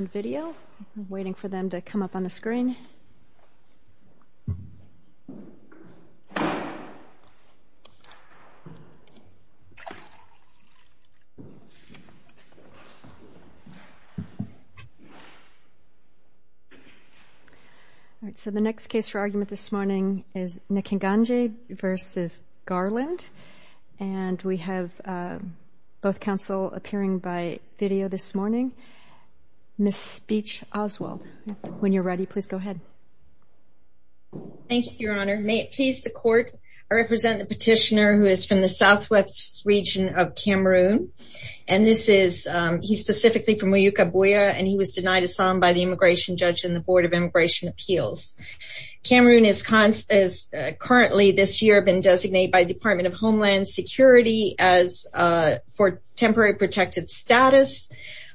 Nkenganyi v. Merrick Garland And we have both counsel appearing by video this morning. Ms. Beach Oswald, when you're ready, please go ahead. Thank you, Your Honor. May it please the court, I represent the petitioner who is from the southwest region of Cameroon. And this is, he's specifically from Uyukabuya, and he was denied asylum by the immigration judge and the Board of Immigration Appeals. Cameroon is currently this year been designated by the Department of Homeland Security as for temporary protected status.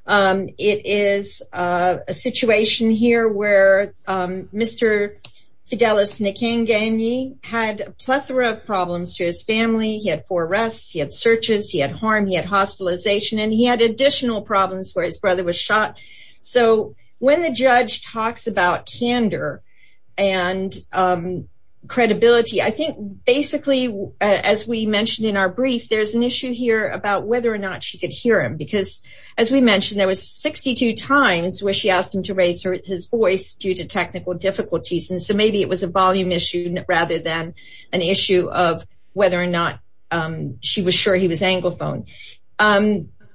It is a situation here where Mr. Fidelis Nkenganyi had a plethora of problems to his family. He had four arrests, he had searches, he had harm, he had hospitalization, and he had additional problems where his brother was shot. So when the judge talks about candor and credibility, I think basically, as we mentioned in our brief, there's an issue here about whether or not she could hear him. Because as we mentioned, there was 62 times where she asked him to raise his voice due to technical difficulties. And so maybe it was a volume issue rather than an issue of whether or not she was sure he was anglophone.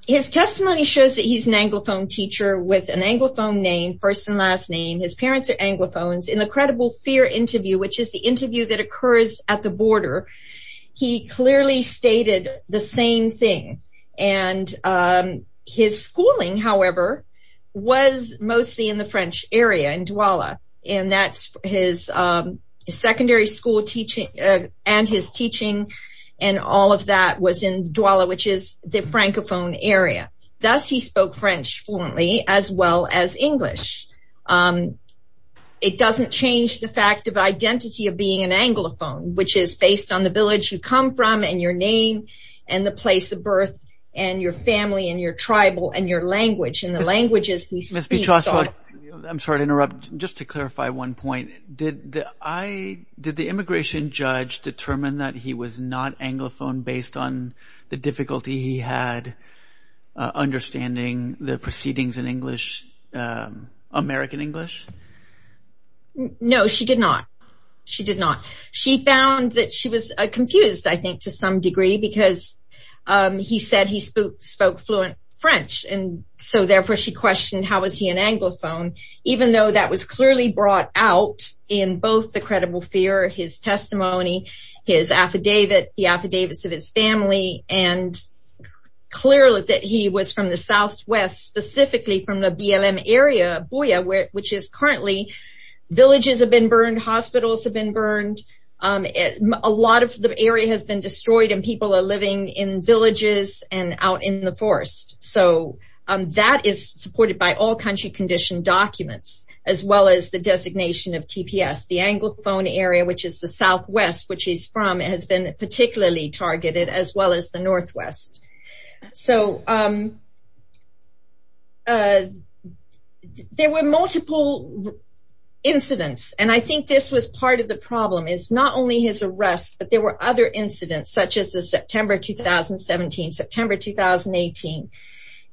His testimony shows that he's an anglophone teacher with an anglophone name, first and last name. His parents are anglophones. In the credible fear interview, which is the interview that occurs at the border, he clearly stated the same thing. And his schooling, however, was mostly in the French area, in Douala, and that's his secondary school teaching and his teaching and all of that was in Douala, which is the Francophone area. Thus, he spoke French fluently as well as English. It doesn't change the fact of identity of being an anglophone, which is based on the village you come from and your name and the place of birth and your family and your tribal and your language and the languages you speak. I'm sorry to interrupt. Just to clarify one point, did the immigration judge determine that he was not anglophone based on the difficulty he had understanding the proceedings in English, American English? No, she did not. She did not. She found that she was confused, I think, to some degree because he said he spoke fluent French and so therefore she questioned how was he an anglophone, even though that was clearly brought out in both the credible fear, his testimony, his affidavit, the affidavits of his family, and clearly that he was from the Southwest, specifically from the BLM area, Boya, which is currently villages have been burned, hospitals have been burned. A lot of the area has been destroyed and people are living in villages and out in the forest. So that is supported by all country condition documents as well as the designation of TPS. The anglophone area, which is the Southwest, which he's from, has been particularly targeted as well as the Northwest. So there were multiple incidents and I think this was part of the problem is not only his arrest, but there were other incidents such as the September, 2017, September, 2018.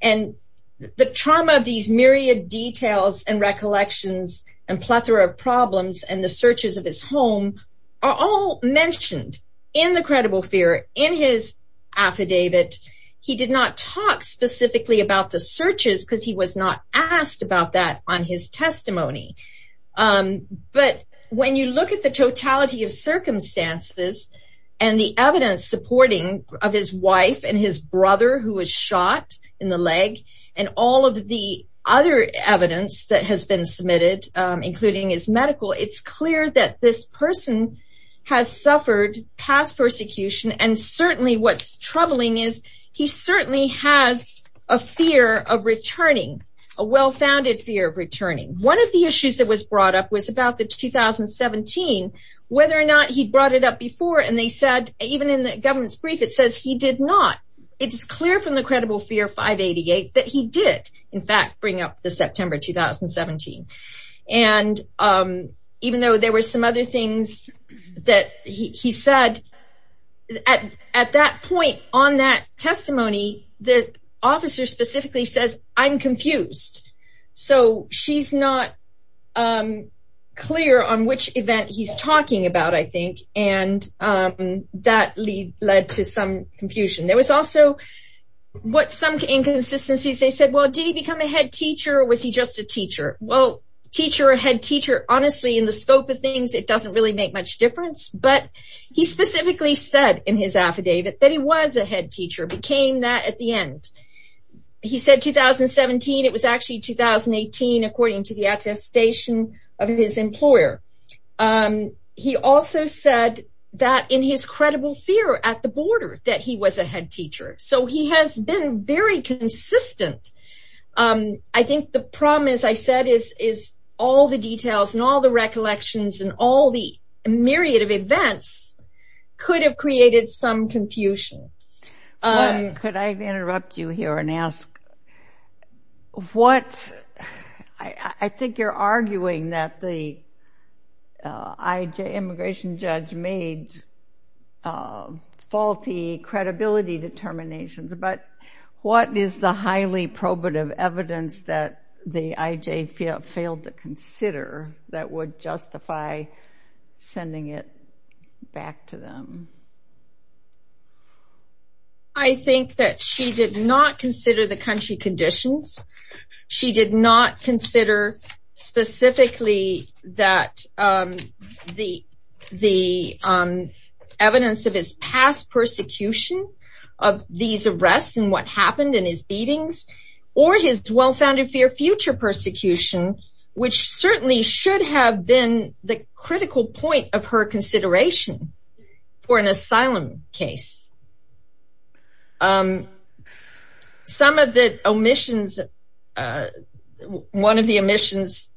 And the trauma of these myriad details and recollections and plethora of problems and the searches of his home are all mentioned in the credible fear in his affidavit. He did not talk specifically about the searches because he was not asked about that on his testimony. But when you look at the totality of circumstances and the evidence supporting of his wife and his brother who was shot in the leg and all of the other evidence that has been submitted, including his medical, it's clear that this person has suffered past persecution and certainly what's troubling is he certainly has a fear of returning, a well-founded fear of returning. One of the issues that was brought up was about the 2017, whether or not he'd brought it up before and they said, even in the government's brief, it says he did not. It's clear from the credible fear 588 that he did, in fact, bring up the September, 2017. And even though there were some other things that he said, at that point on that testimony, the officer specifically says, I'm confused. So she's not clear on which event he's talking about, I think, and that led to some confusion. There was also what some inconsistencies, they said, well, did he become a head teacher or was he just a teacher? Well, teacher or head teacher, honestly, in the scope of things, it doesn't really make much difference, but he specifically said in his affidavit that he was a head teacher, became that at the end. He said 2017, it was actually 2018, according to the attestation of his employer. He also said that in his credible fear at the border that he was a head teacher. So he has been very consistent. I think the problem, as I said, is all the details and all the recollections and all the myriad of events could have created some confusion. Could I interrupt you here and ask, I think you're arguing that the immigration judge made faulty credibility determinations, but what is the highly probative evidence that the IJ failed to consider that would justify sending it back to them? I think that she did not consider the country conditions. She did not consider specifically that the evidence of his past persecution of these arrests and what happened in his beatings or his well-founded fear future persecution, which certainly should have been the critical point of her consideration for an asylum case. Some of the omissions, one of the omissions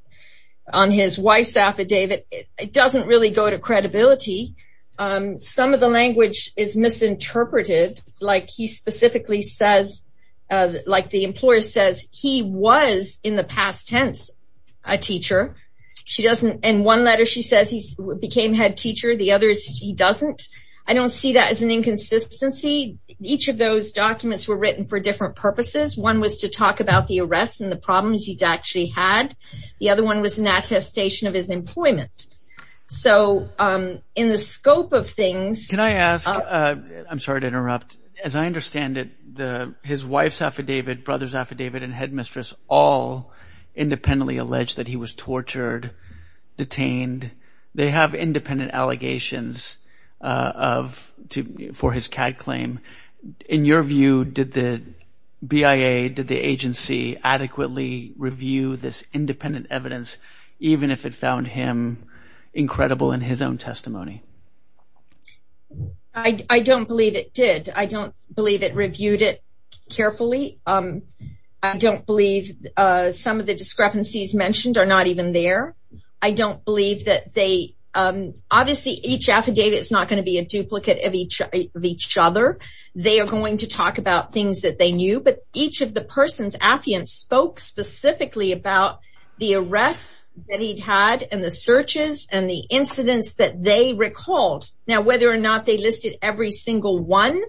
on his wife's affidavit, it doesn't really go to credibility. Some of the language is misinterpreted, like he specifically says, like the employer says he was in the past tense a teacher. In one letter she says he became head teacher, the others he doesn't. I don't see that as an inconsistency. Each of those documents were written for different purposes. One was to talk about the arrests and the problems he's actually had. The other one was an attestation of his employment. So in the scope of things- Can I ask, I'm sorry to interrupt. As I understand it, his wife's affidavit, brother's affidavit and headmistress all independently alleged that he was tortured, detained. They have independent allegations for his CAD claim. In your view, did the BIA, did the agency adequately review this independent evidence, even if it found him incredible in his own testimony? I don't believe it did. I don't believe it reviewed it carefully. I don't believe some of the discrepancies mentioned are not even there. I don't believe that they, obviously each affidavit is not gonna be a duplicate of each other. They are going to talk about things that they knew, but each of the person's affidavits spoke specifically about the arrests that he'd had and the searches and the incidents that they recalled. Now, whether or not they listed every single one,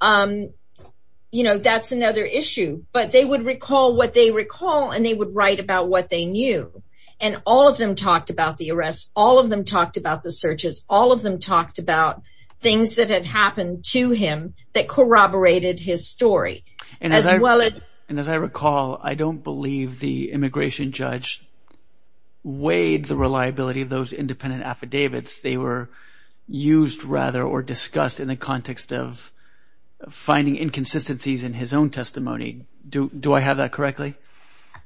that's another issue, but they would recall what they recall and they would write about what they knew. And all of them talked about the arrests. All of them talked about the searches. All of them talked about things that had happened to him that corroborated his story. And as I recall, I don't believe the immigration judge weighed the reliability of those independent affidavits. They were used rather or discussed in the context of finding inconsistencies in his own testimony. Do I have that correctly?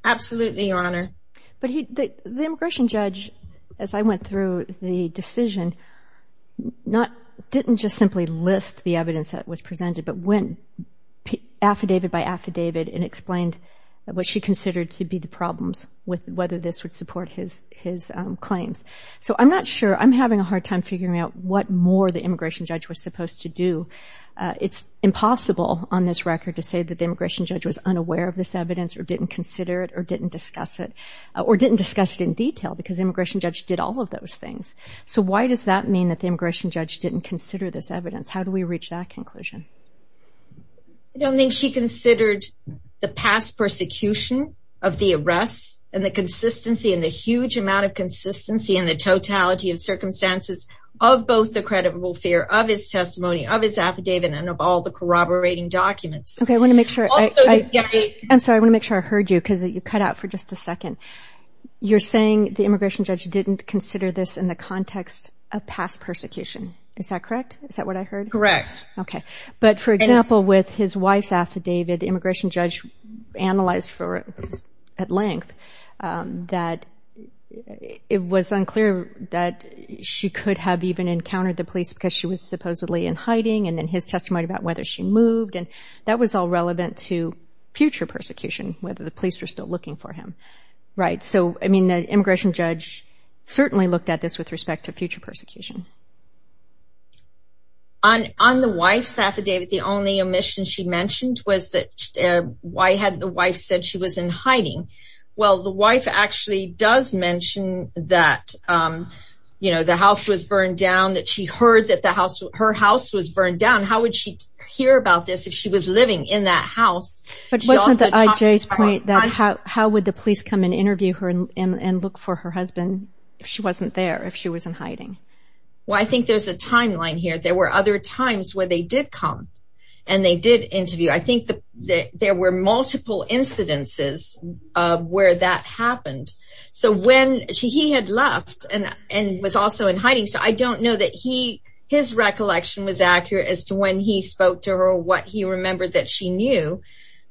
Absolutely, Your Honor. But the immigration judge, as I went through the decision, didn't just simply list the evidence that was presented, but went affidavit by affidavit and explained what she considered to be the problems with whether this would support his claims. So I'm not sure. I'm having a hard time figuring out what more the immigration judge was supposed to do. It's impossible on this record to say that the immigration judge was unaware of this evidence or didn't consider it or didn't discuss it, or didn't discuss it in detail because the immigration judge did all of those things. So why does that mean that the immigration judge didn't consider this evidence? How do we reach that conclusion? I don't think she considered the past persecution of the arrests and the consistency and the huge amount of consistency and the totality of circumstances of both the credible fear of his testimony, of his affidavit, and of all the corroborating documents. Okay, I want to make sure. I'm sorry, I want to make sure I heard you because you cut out for just a second. You're saying the immigration judge didn't consider this in the context of past persecution. Is that correct? Is that what I heard? Correct. Okay, but for example, with his wife's affidavit, the immigration judge analyzed for at length that it was unclear that she could have even encountered the police because she was supposedly in hiding and then his testimony about whether she moved. And that was all relevant to future persecution, whether the police were still looking for him. Right, so I mean, the immigration judge certainly looked at this with respect to future persecution. On the wife's affidavit, the only omission she mentioned was that why had the wife said she was in hiding? Well, the wife actually does mention that, you know, the house was burned down, that she heard that her house was burned down. How would she hear about this if she was living in that house? But wasn't the IJ's point that how would the police come and interview her and look for her husband if she wasn't there, if she was in hiding? Well, I think there's a timeline here. There were other times where they did come and they did interview. I think that there were multiple incidences of where that happened. So when he had left and was also in hiding, so I don't know that his recollection was accurate as to when he spoke to her or what he remembered that she knew.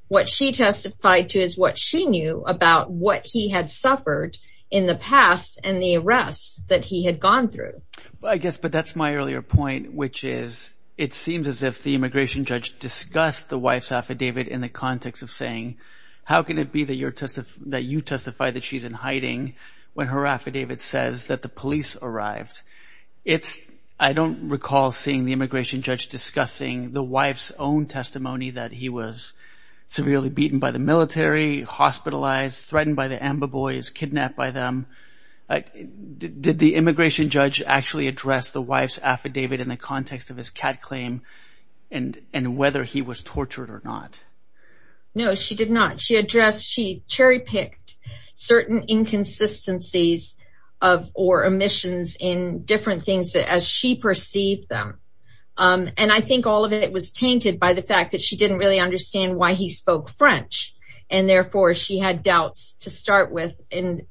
What she testified to is what she knew about what he had suffered in the past and the arrests that he had gone through. I guess, but that's my earlier point, which is it seems as if the immigration judge discussed the wife's affidavit in the context of saying, how can it be that you testify that she's in hiding when her affidavit says that the police arrived? It's, I don't recall seeing the immigration judge discussing the wife's own testimony that he was severely beaten by the military, hospitalized, threatened by the AMBA boys, kidnapped by them. Did the immigration judge actually address the wife's affidavit in the context of his cat claim and whether he was tortured or not? No, she did not. She addressed, she cherry-picked certain inconsistencies of or omissions in different things as she perceived them. And I think all of it was tainted by the fact that she didn't really understand why he spoke French and therefore she had doubts to start with. And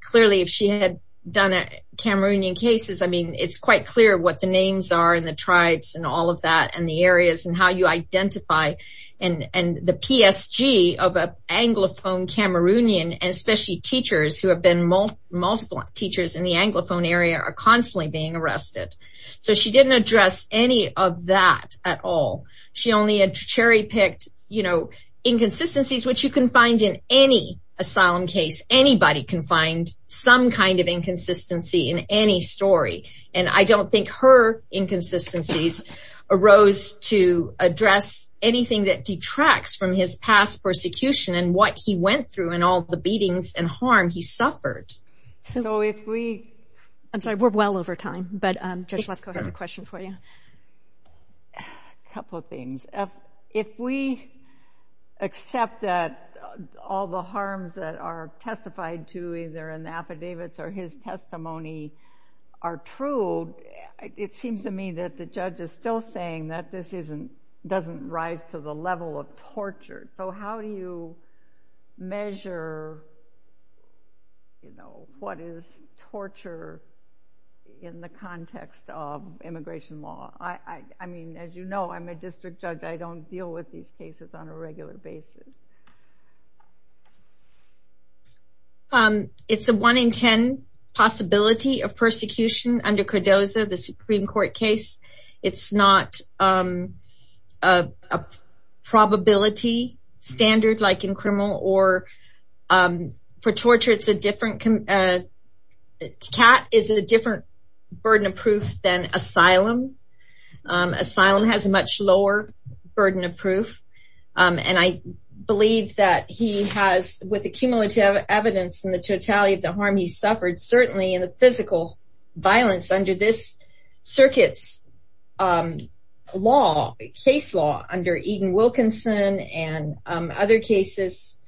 clearly if she had done a Cameroonian cases, I mean, it's quite clear what the names are and the tribes and all of that and the areas and how you identify and the PSG of a Anglophone Cameroonian and especially teachers who have been multiple teachers in the Anglophone area are constantly being arrested. So she didn't address any of that at all. She only had cherry-picked inconsistencies which you can find in any asylum case. Anybody can find some kind of inconsistency in any story. And I don't think her inconsistencies arose to address anything that detracts from his past persecution and what he went through and all the beatings and harm he suffered. So if we- I'm sorry, we're well over time, but Judge Lefkoe has a question for you. Couple of things. If we accept that all the harms that are testified to either in the affidavits or his testimony are true, it seems to me that the judge is still saying that this doesn't rise to the level of torture. So how do you measure what is torture in the context of immigration law? I mean, as you know, I'm a district judge. I don't deal with these cases on a regular basis. It's a one in 10 possibility of persecution under Cardozo, the Supreme Court case. It's not a probability standard like in criminal or for torture, it's a different- Asylum has a much lower burden of proof. And I believe that he has, with the cumulative evidence and the totality of the harm he suffered, certainly in the physical violence under this circuit's law, case law under Eden Wilkinson and other cases,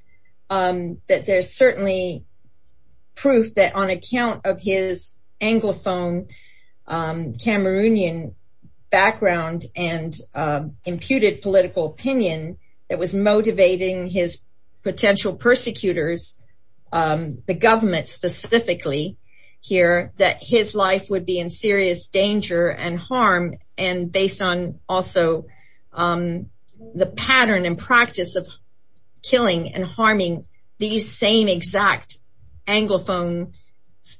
that there's certainly proof that on account of his Anglophone, Cameroonian background and imputed political opinion that was motivating his potential persecutors, the government specifically here, that his life would be in serious danger and harm and based on also the pattern and practice of killing and harming these same exact Anglophone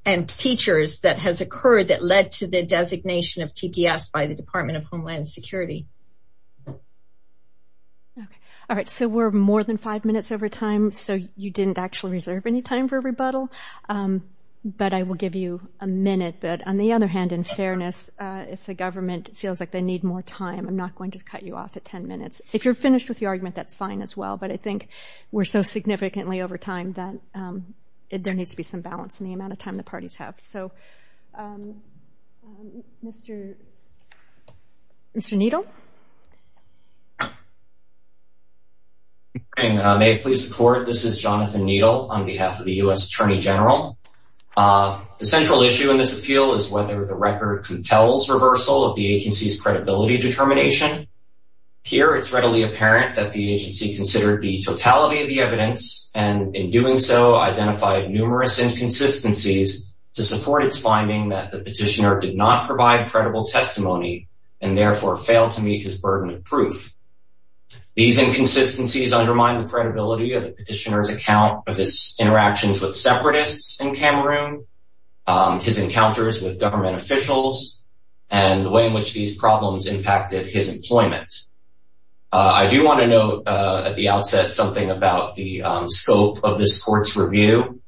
and teachers that has occurred that led to the designation of TGS by the Department of Homeland Security. Okay, all right, so we're more than five minutes over time. So you didn't actually reserve any time for a rebuttal, but I will give you a minute. But on the other hand, in fairness, if the government feels like they need more time, I'm not going to cut you off at 10 minutes. If you're finished with your argument, that's fine as well. But I think we're so significantly over time that there needs to be some balance in the amount of time the parties have. So, Mr. Needle. And may it please the court, this is Jonathan Needle on behalf of the U.S. Attorney General. The central issue in this appeal is whether the record compels reversal of the agency's credibility determination. Here, it's readily apparent that the agency considered the totality of the evidence, and in doing so, identified numerous inconsistencies to support its finding that the petitioner did not provide credible testimony and therefore failed to meet his burden of proof. These inconsistencies undermine the credibility of the petitioner's account of his interactions with separatists in Cameroon, his encounters with government officials, and the way in which these problems impacted his employment. I do want to note at the outset something about the scope of this court's review.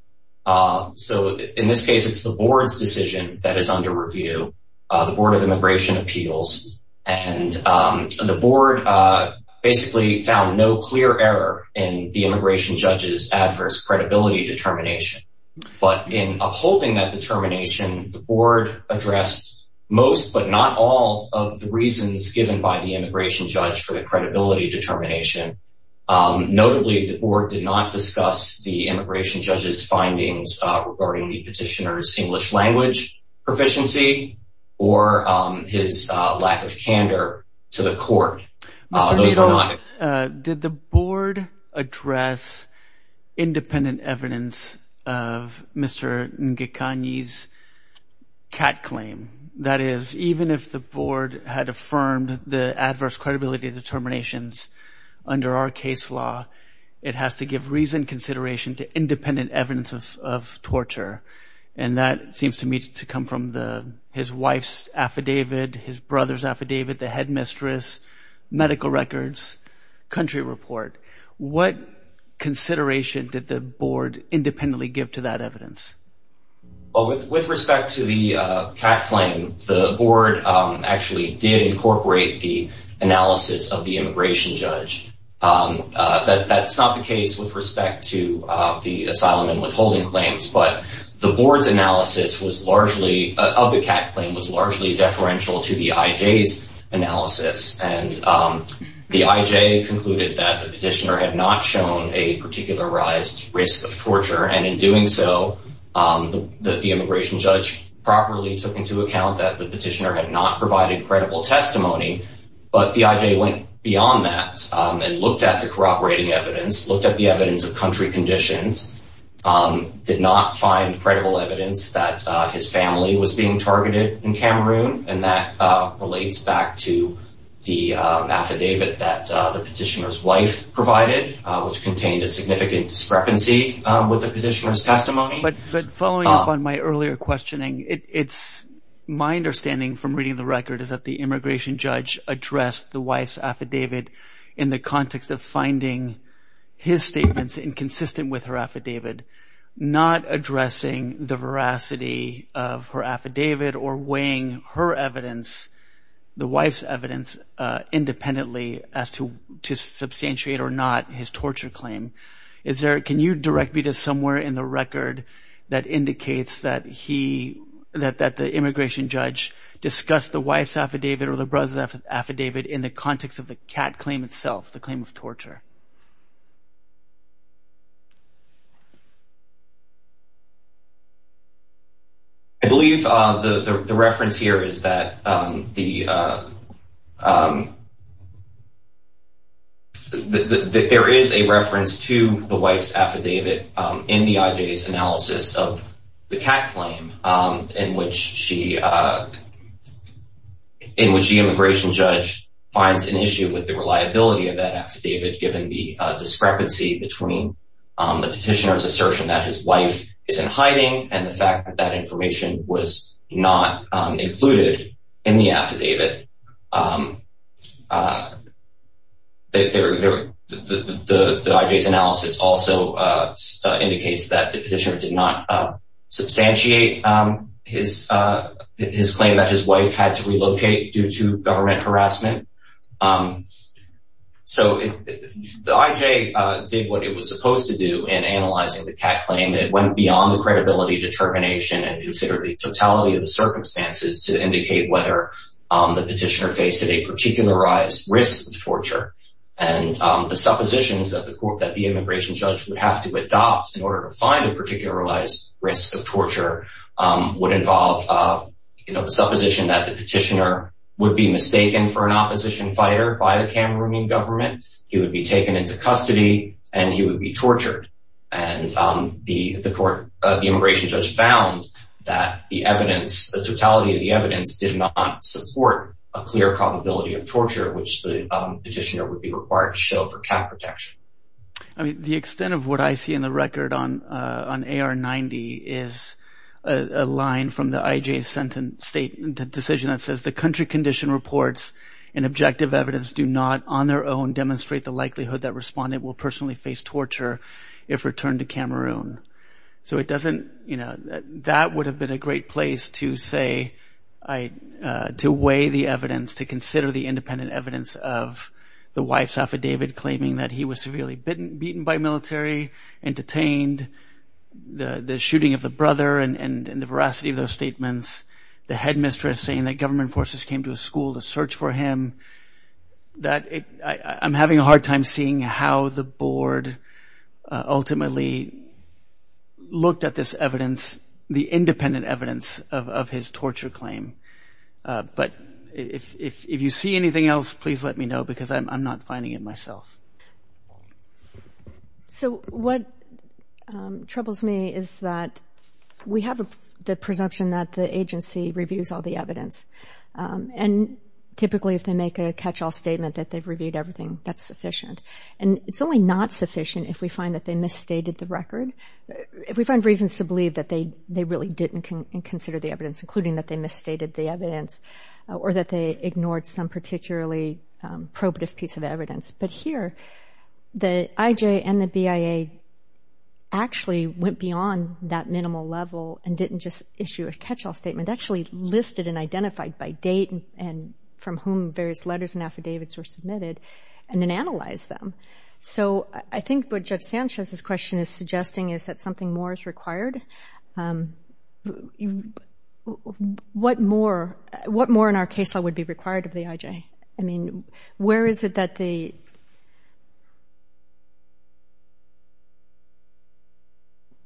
So, in this case, it's the board's decision that is under review, the Board of Immigration Appeals. And the board basically found no clear error in the immigration judge's adverse credibility determination. But in upholding that determination, the board addressed most, but not all, of the reasons given by the immigration judge. The board did not address the immigration judge for the credibility determination. Notably, the board did not discuss the immigration judge's findings regarding the petitioner's English language proficiency or his lack of candor to the court. Those were not... Mr. Little, did the board address independent evidence of Mr. Ngekanye's CAT claim? That is, even if the board had affirmed the adverse credibility determinations under our case law, it has to give reasoned consideration to independent evidence of torture. And that seems to me to come from his wife's affidavit, his brother's affidavit, the headmistress, medical records, country report. What consideration did the board independently give to that evidence? Well, with respect to the CAT claim, the board actually did incorporate the analysis of the immigration judge. That's not the case with respect to the asylum and withholding claims, but the board's analysis of the CAT claim was largely deferential to the IJ's analysis. And the IJ concluded that the petitioner had not shown a particularized risk of torture. And in doing so, the immigration judge properly took into account that the petitioner had not provided credible testimony. But the IJ went beyond that and looked at the corroborating evidence, looked at the evidence of country conditions, did not find credible evidence that his family was being targeted in Cameroon. And that relates back to the affidavit that the petitioner's wife provided, which contained a significant discrepancy with the petitioner's testimony. But following up on my earlier questioning, my understanding from reading the record is that the immigration judge addressed the wife's affidavit in the context of finding his statements inconsistent with her affidavit, not addressing the veracity of her affidavit or weighing her evidence, the wife's evidence, independently as to substantiate or not his torture claim. Is there, can you direct me to somewhere in the record that indicates that he, that the immigration judge discussed the wife's affidavit or the brother's affidavit in the context of the CAT claim itself, the claim of torture? I believe the reference here is that the, that there is a reference to the wife's affidavit in the IJ's analysis of the CAT claim in which she, in which the immigration judge finds an issue with the reliability of that affidavit given the discrepancy between the petitioner's assertion that his wife is in hiding and the fact that that information was not included in the affidavit. That there, the IJ's analysis also indicates that the petitioner did not substantiate his, his claim that his wife had to relocate due to government harassment. So the IJ did what it was supposed to do in analyzing the CAT claim. It went beyond the credibility determination and considered the totality of the circumstances to indicate whether the petitioner faced a particularized risk of torture. And the suppositions that the court, that the immigration judge would have to adopt in order to find a particularized risk of torture would involve, you know, the supposition that the petitioner would be mistaken for an opposition fighter by the Cameroonian government. He would be taken into custody and he would be tortured. And the court, the immigration judge found that the evidence, the totality of the evidence did not support a clear probability of torture, which the petitioner would be required to show for CAT protection. I mean, the extent of what I see in the record on, on AR-90 is a line from the IJ's sentence state decision that says the country condition reports and objective evidence do not on their own demonstrate the likelihood that respondent will personally face torture if returned to Cameroon. So it doesn't, you know, that would have been a great place to say, to weigh the evidence, to consider the independent evidence of the wife's affidavit claiming that he was severely beaten by military, and detained, the shooting of the brother, and the veracity of those statements, the headmistress saying that government forces came to his school to search for him, that I'm having a hard time seeing how the board ultimately looked at this evidence, the independent evidence of his torture claim. But if you see anything else, please let me know, because I'm not finding it myself. So what troubles me is that we have the presumption that the agency reviews all the evidence. And typically, if they make a catch-all statement that they've reviewed everything, that's sufficient. And it's only not sufficient if we find that they misstated the record, if we find reasons to believe that they really didn't consider the evidence, including that they misstated the evidence, or that they ignored some particularly probative piece of evidence. But here, the IJ and the BIA actually went beyond that minimal level and didn't just issue a catch-all statement, actually listed and identified by date and from whom various letters and affidavits were submitted, and then analyzed them. So I think what Judge Sanchez's question is suggesting is that something more is required. What more in our case law would be required of the IJ? I mean, where is it that the...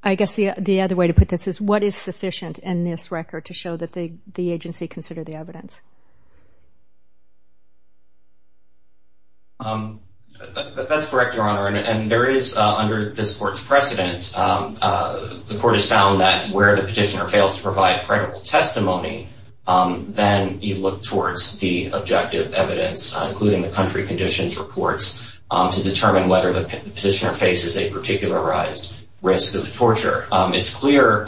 I guess the other way to put this is, what is sufficient in this record to show that the agency considered the evidence? That's correct, Your Honor. And there is, under this court's precedent, the court has found that where the petitioner fails to provide credible testimony, then you look towards the objective evidence, including the country conditions reports, to determine whether the petitioner faces a particularized risk of torture. It's clear,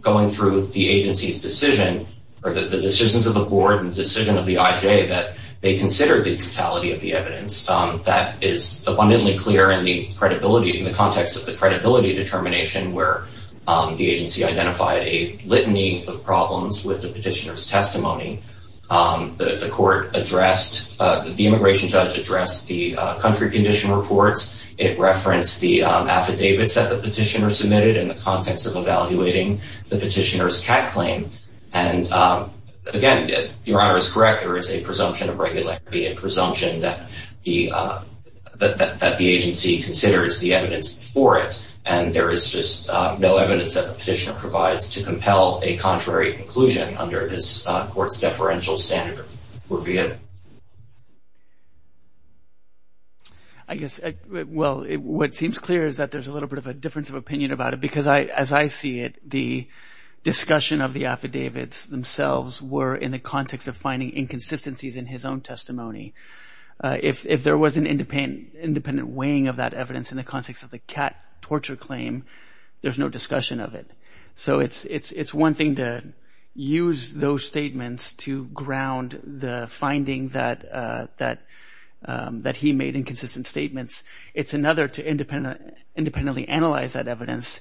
going through the agency's decision, or the decisions of the board and the decision of the IJ, that they considered the totality of the evidence. That is abundantly clear in the context of the credibility determination, where the agency identified a litany of problems with the petitioner's testimony. The immigration judge addressed the country condition reports. It referenced the affidavits that the petitioner submitted in the context of evaluating the petitioner's CAT claim. And again, Your Honor is correct, there is a presumption of regularity, a presumption that the agency considers the evidence before it. And there is just no evidence that the petitioner provides to compel a contrary conclusion under this court's deferential standard. I guess, well, what seems clear is that there's a little bit of a difference of opinion about it, because as I see it, the discussion of the affidavits themselves were in the context of finding inconsistencies in his own testimony. If there was an independent weighing of that evidence in the context of the CAT torture claim, there's no discussion of it. So it's one thing to use those statements to ground the finding that he made inconsistent statements. It's another to independently analyze that evidence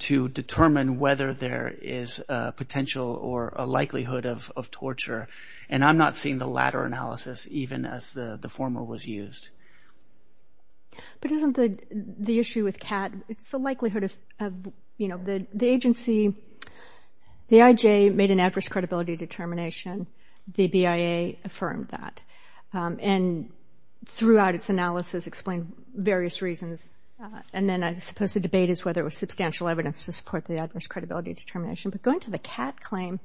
to determine whether there is a potential or a likelihood of torture. And I'm not seeing the latter analysis even as the former was used. But isn't the issue with CAT, it's the likelihood of, you know, the agency, the IJ made an adverse credibility determination, the BIA affirmed that. And throughout its analysis explained various reasons. And then I suppose the debate is whether it was substantial evidence to support the adverse credibility determination. But going to the CAT claim,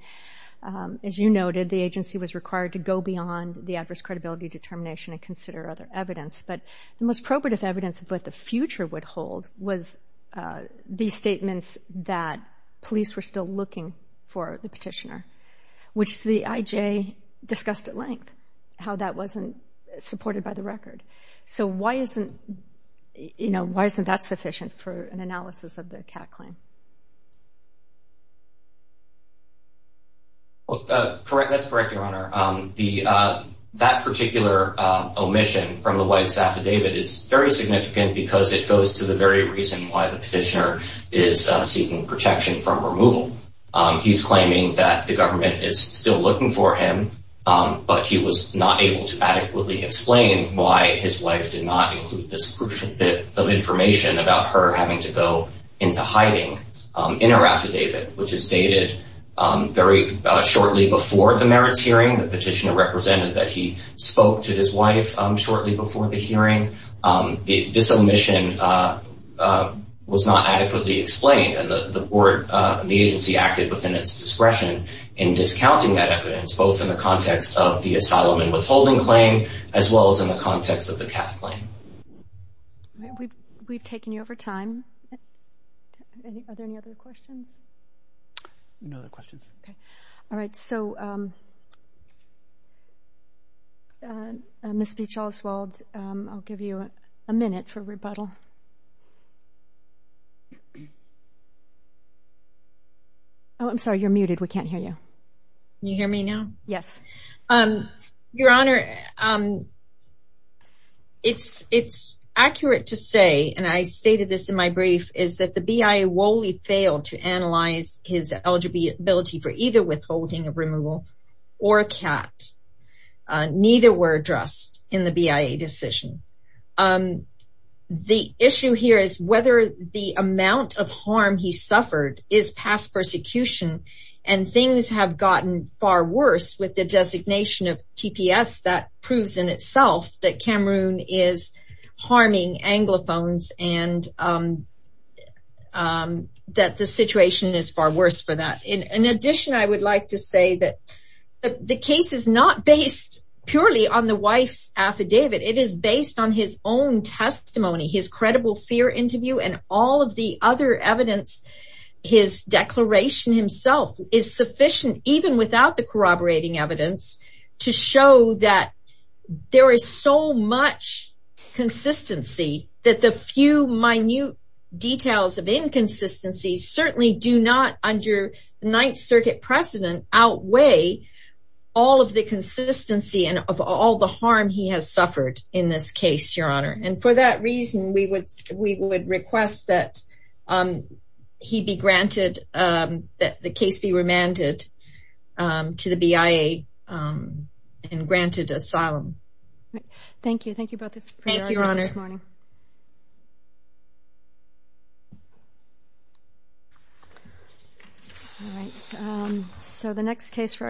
as you noted, the agency was required to go beyond the adverse credibility determination and consider other evidence. But the most probative evidence of what the future would hold was these statements that police were still looking for the petitioner, which the IJ discussed at length, how that wasn't supported by the record. So why isn't, you know, why isn't that sufficient for an analysis of the CAT claim? Correct, that's correct, Your Honor. That particular omission from the wife's affidavit is very significant because it goes to the very reason why the petitioner is seeking protection from removal. He's claiming that the government is still looking for him, but he was not able to adequately explain why his wife did not include this crucial bit of information about her having to go into hiding in her affidavit, which is dated very shortly before the merits hearing. The petitioner represented that he spoke to his wife shortly before the hearing. This omission was not adequately explained. And the agency acted within its discretion in discounting that evidence, both in the context of the asylum and withholding claim, as well as in the context of the CAT claim. We've taken you over time. Are there any other questions? No other questions. All right, so Ms. Beach-Oswald, I'll give you a minute for rebuttal. Oh, I'm sorry, you're muted, we can't hear you. Can you hear me now? Yes. Your Honor, it's accurate to say, and I stated this in my brief, is that the BIA woefully failed to analyze his eligibility for either withholding of removal or a CAT. Neither were addressed in the BIA decision. The issue here is whether the amount of harm he suffered is past persecution, and things have gotten far worse with the designation of TPS that proves in itself that Cameroon is harming Anglophones and that the situation is far worse for that. In addition, I would like to say that the case is not based purely on the wife's affidavit. It is based on his own testimony, his credible fear interview, and all of the other evidence, his declaration himself is sufficient, even without the corroborating evidence, to show that there is so much consistency that the few minute details of inconsistency certainly do not, under Ninth Circuit precedent, outweigh all of the consistency and of all the harm he has suffered in this case, Your Honor. And for that reason, we would request that he be granted, that the case be remanded to the BIA and granted asylum. Thank you. Thank you both for joining us this morning. Thank you, Your Honor. All right. So the next case for us.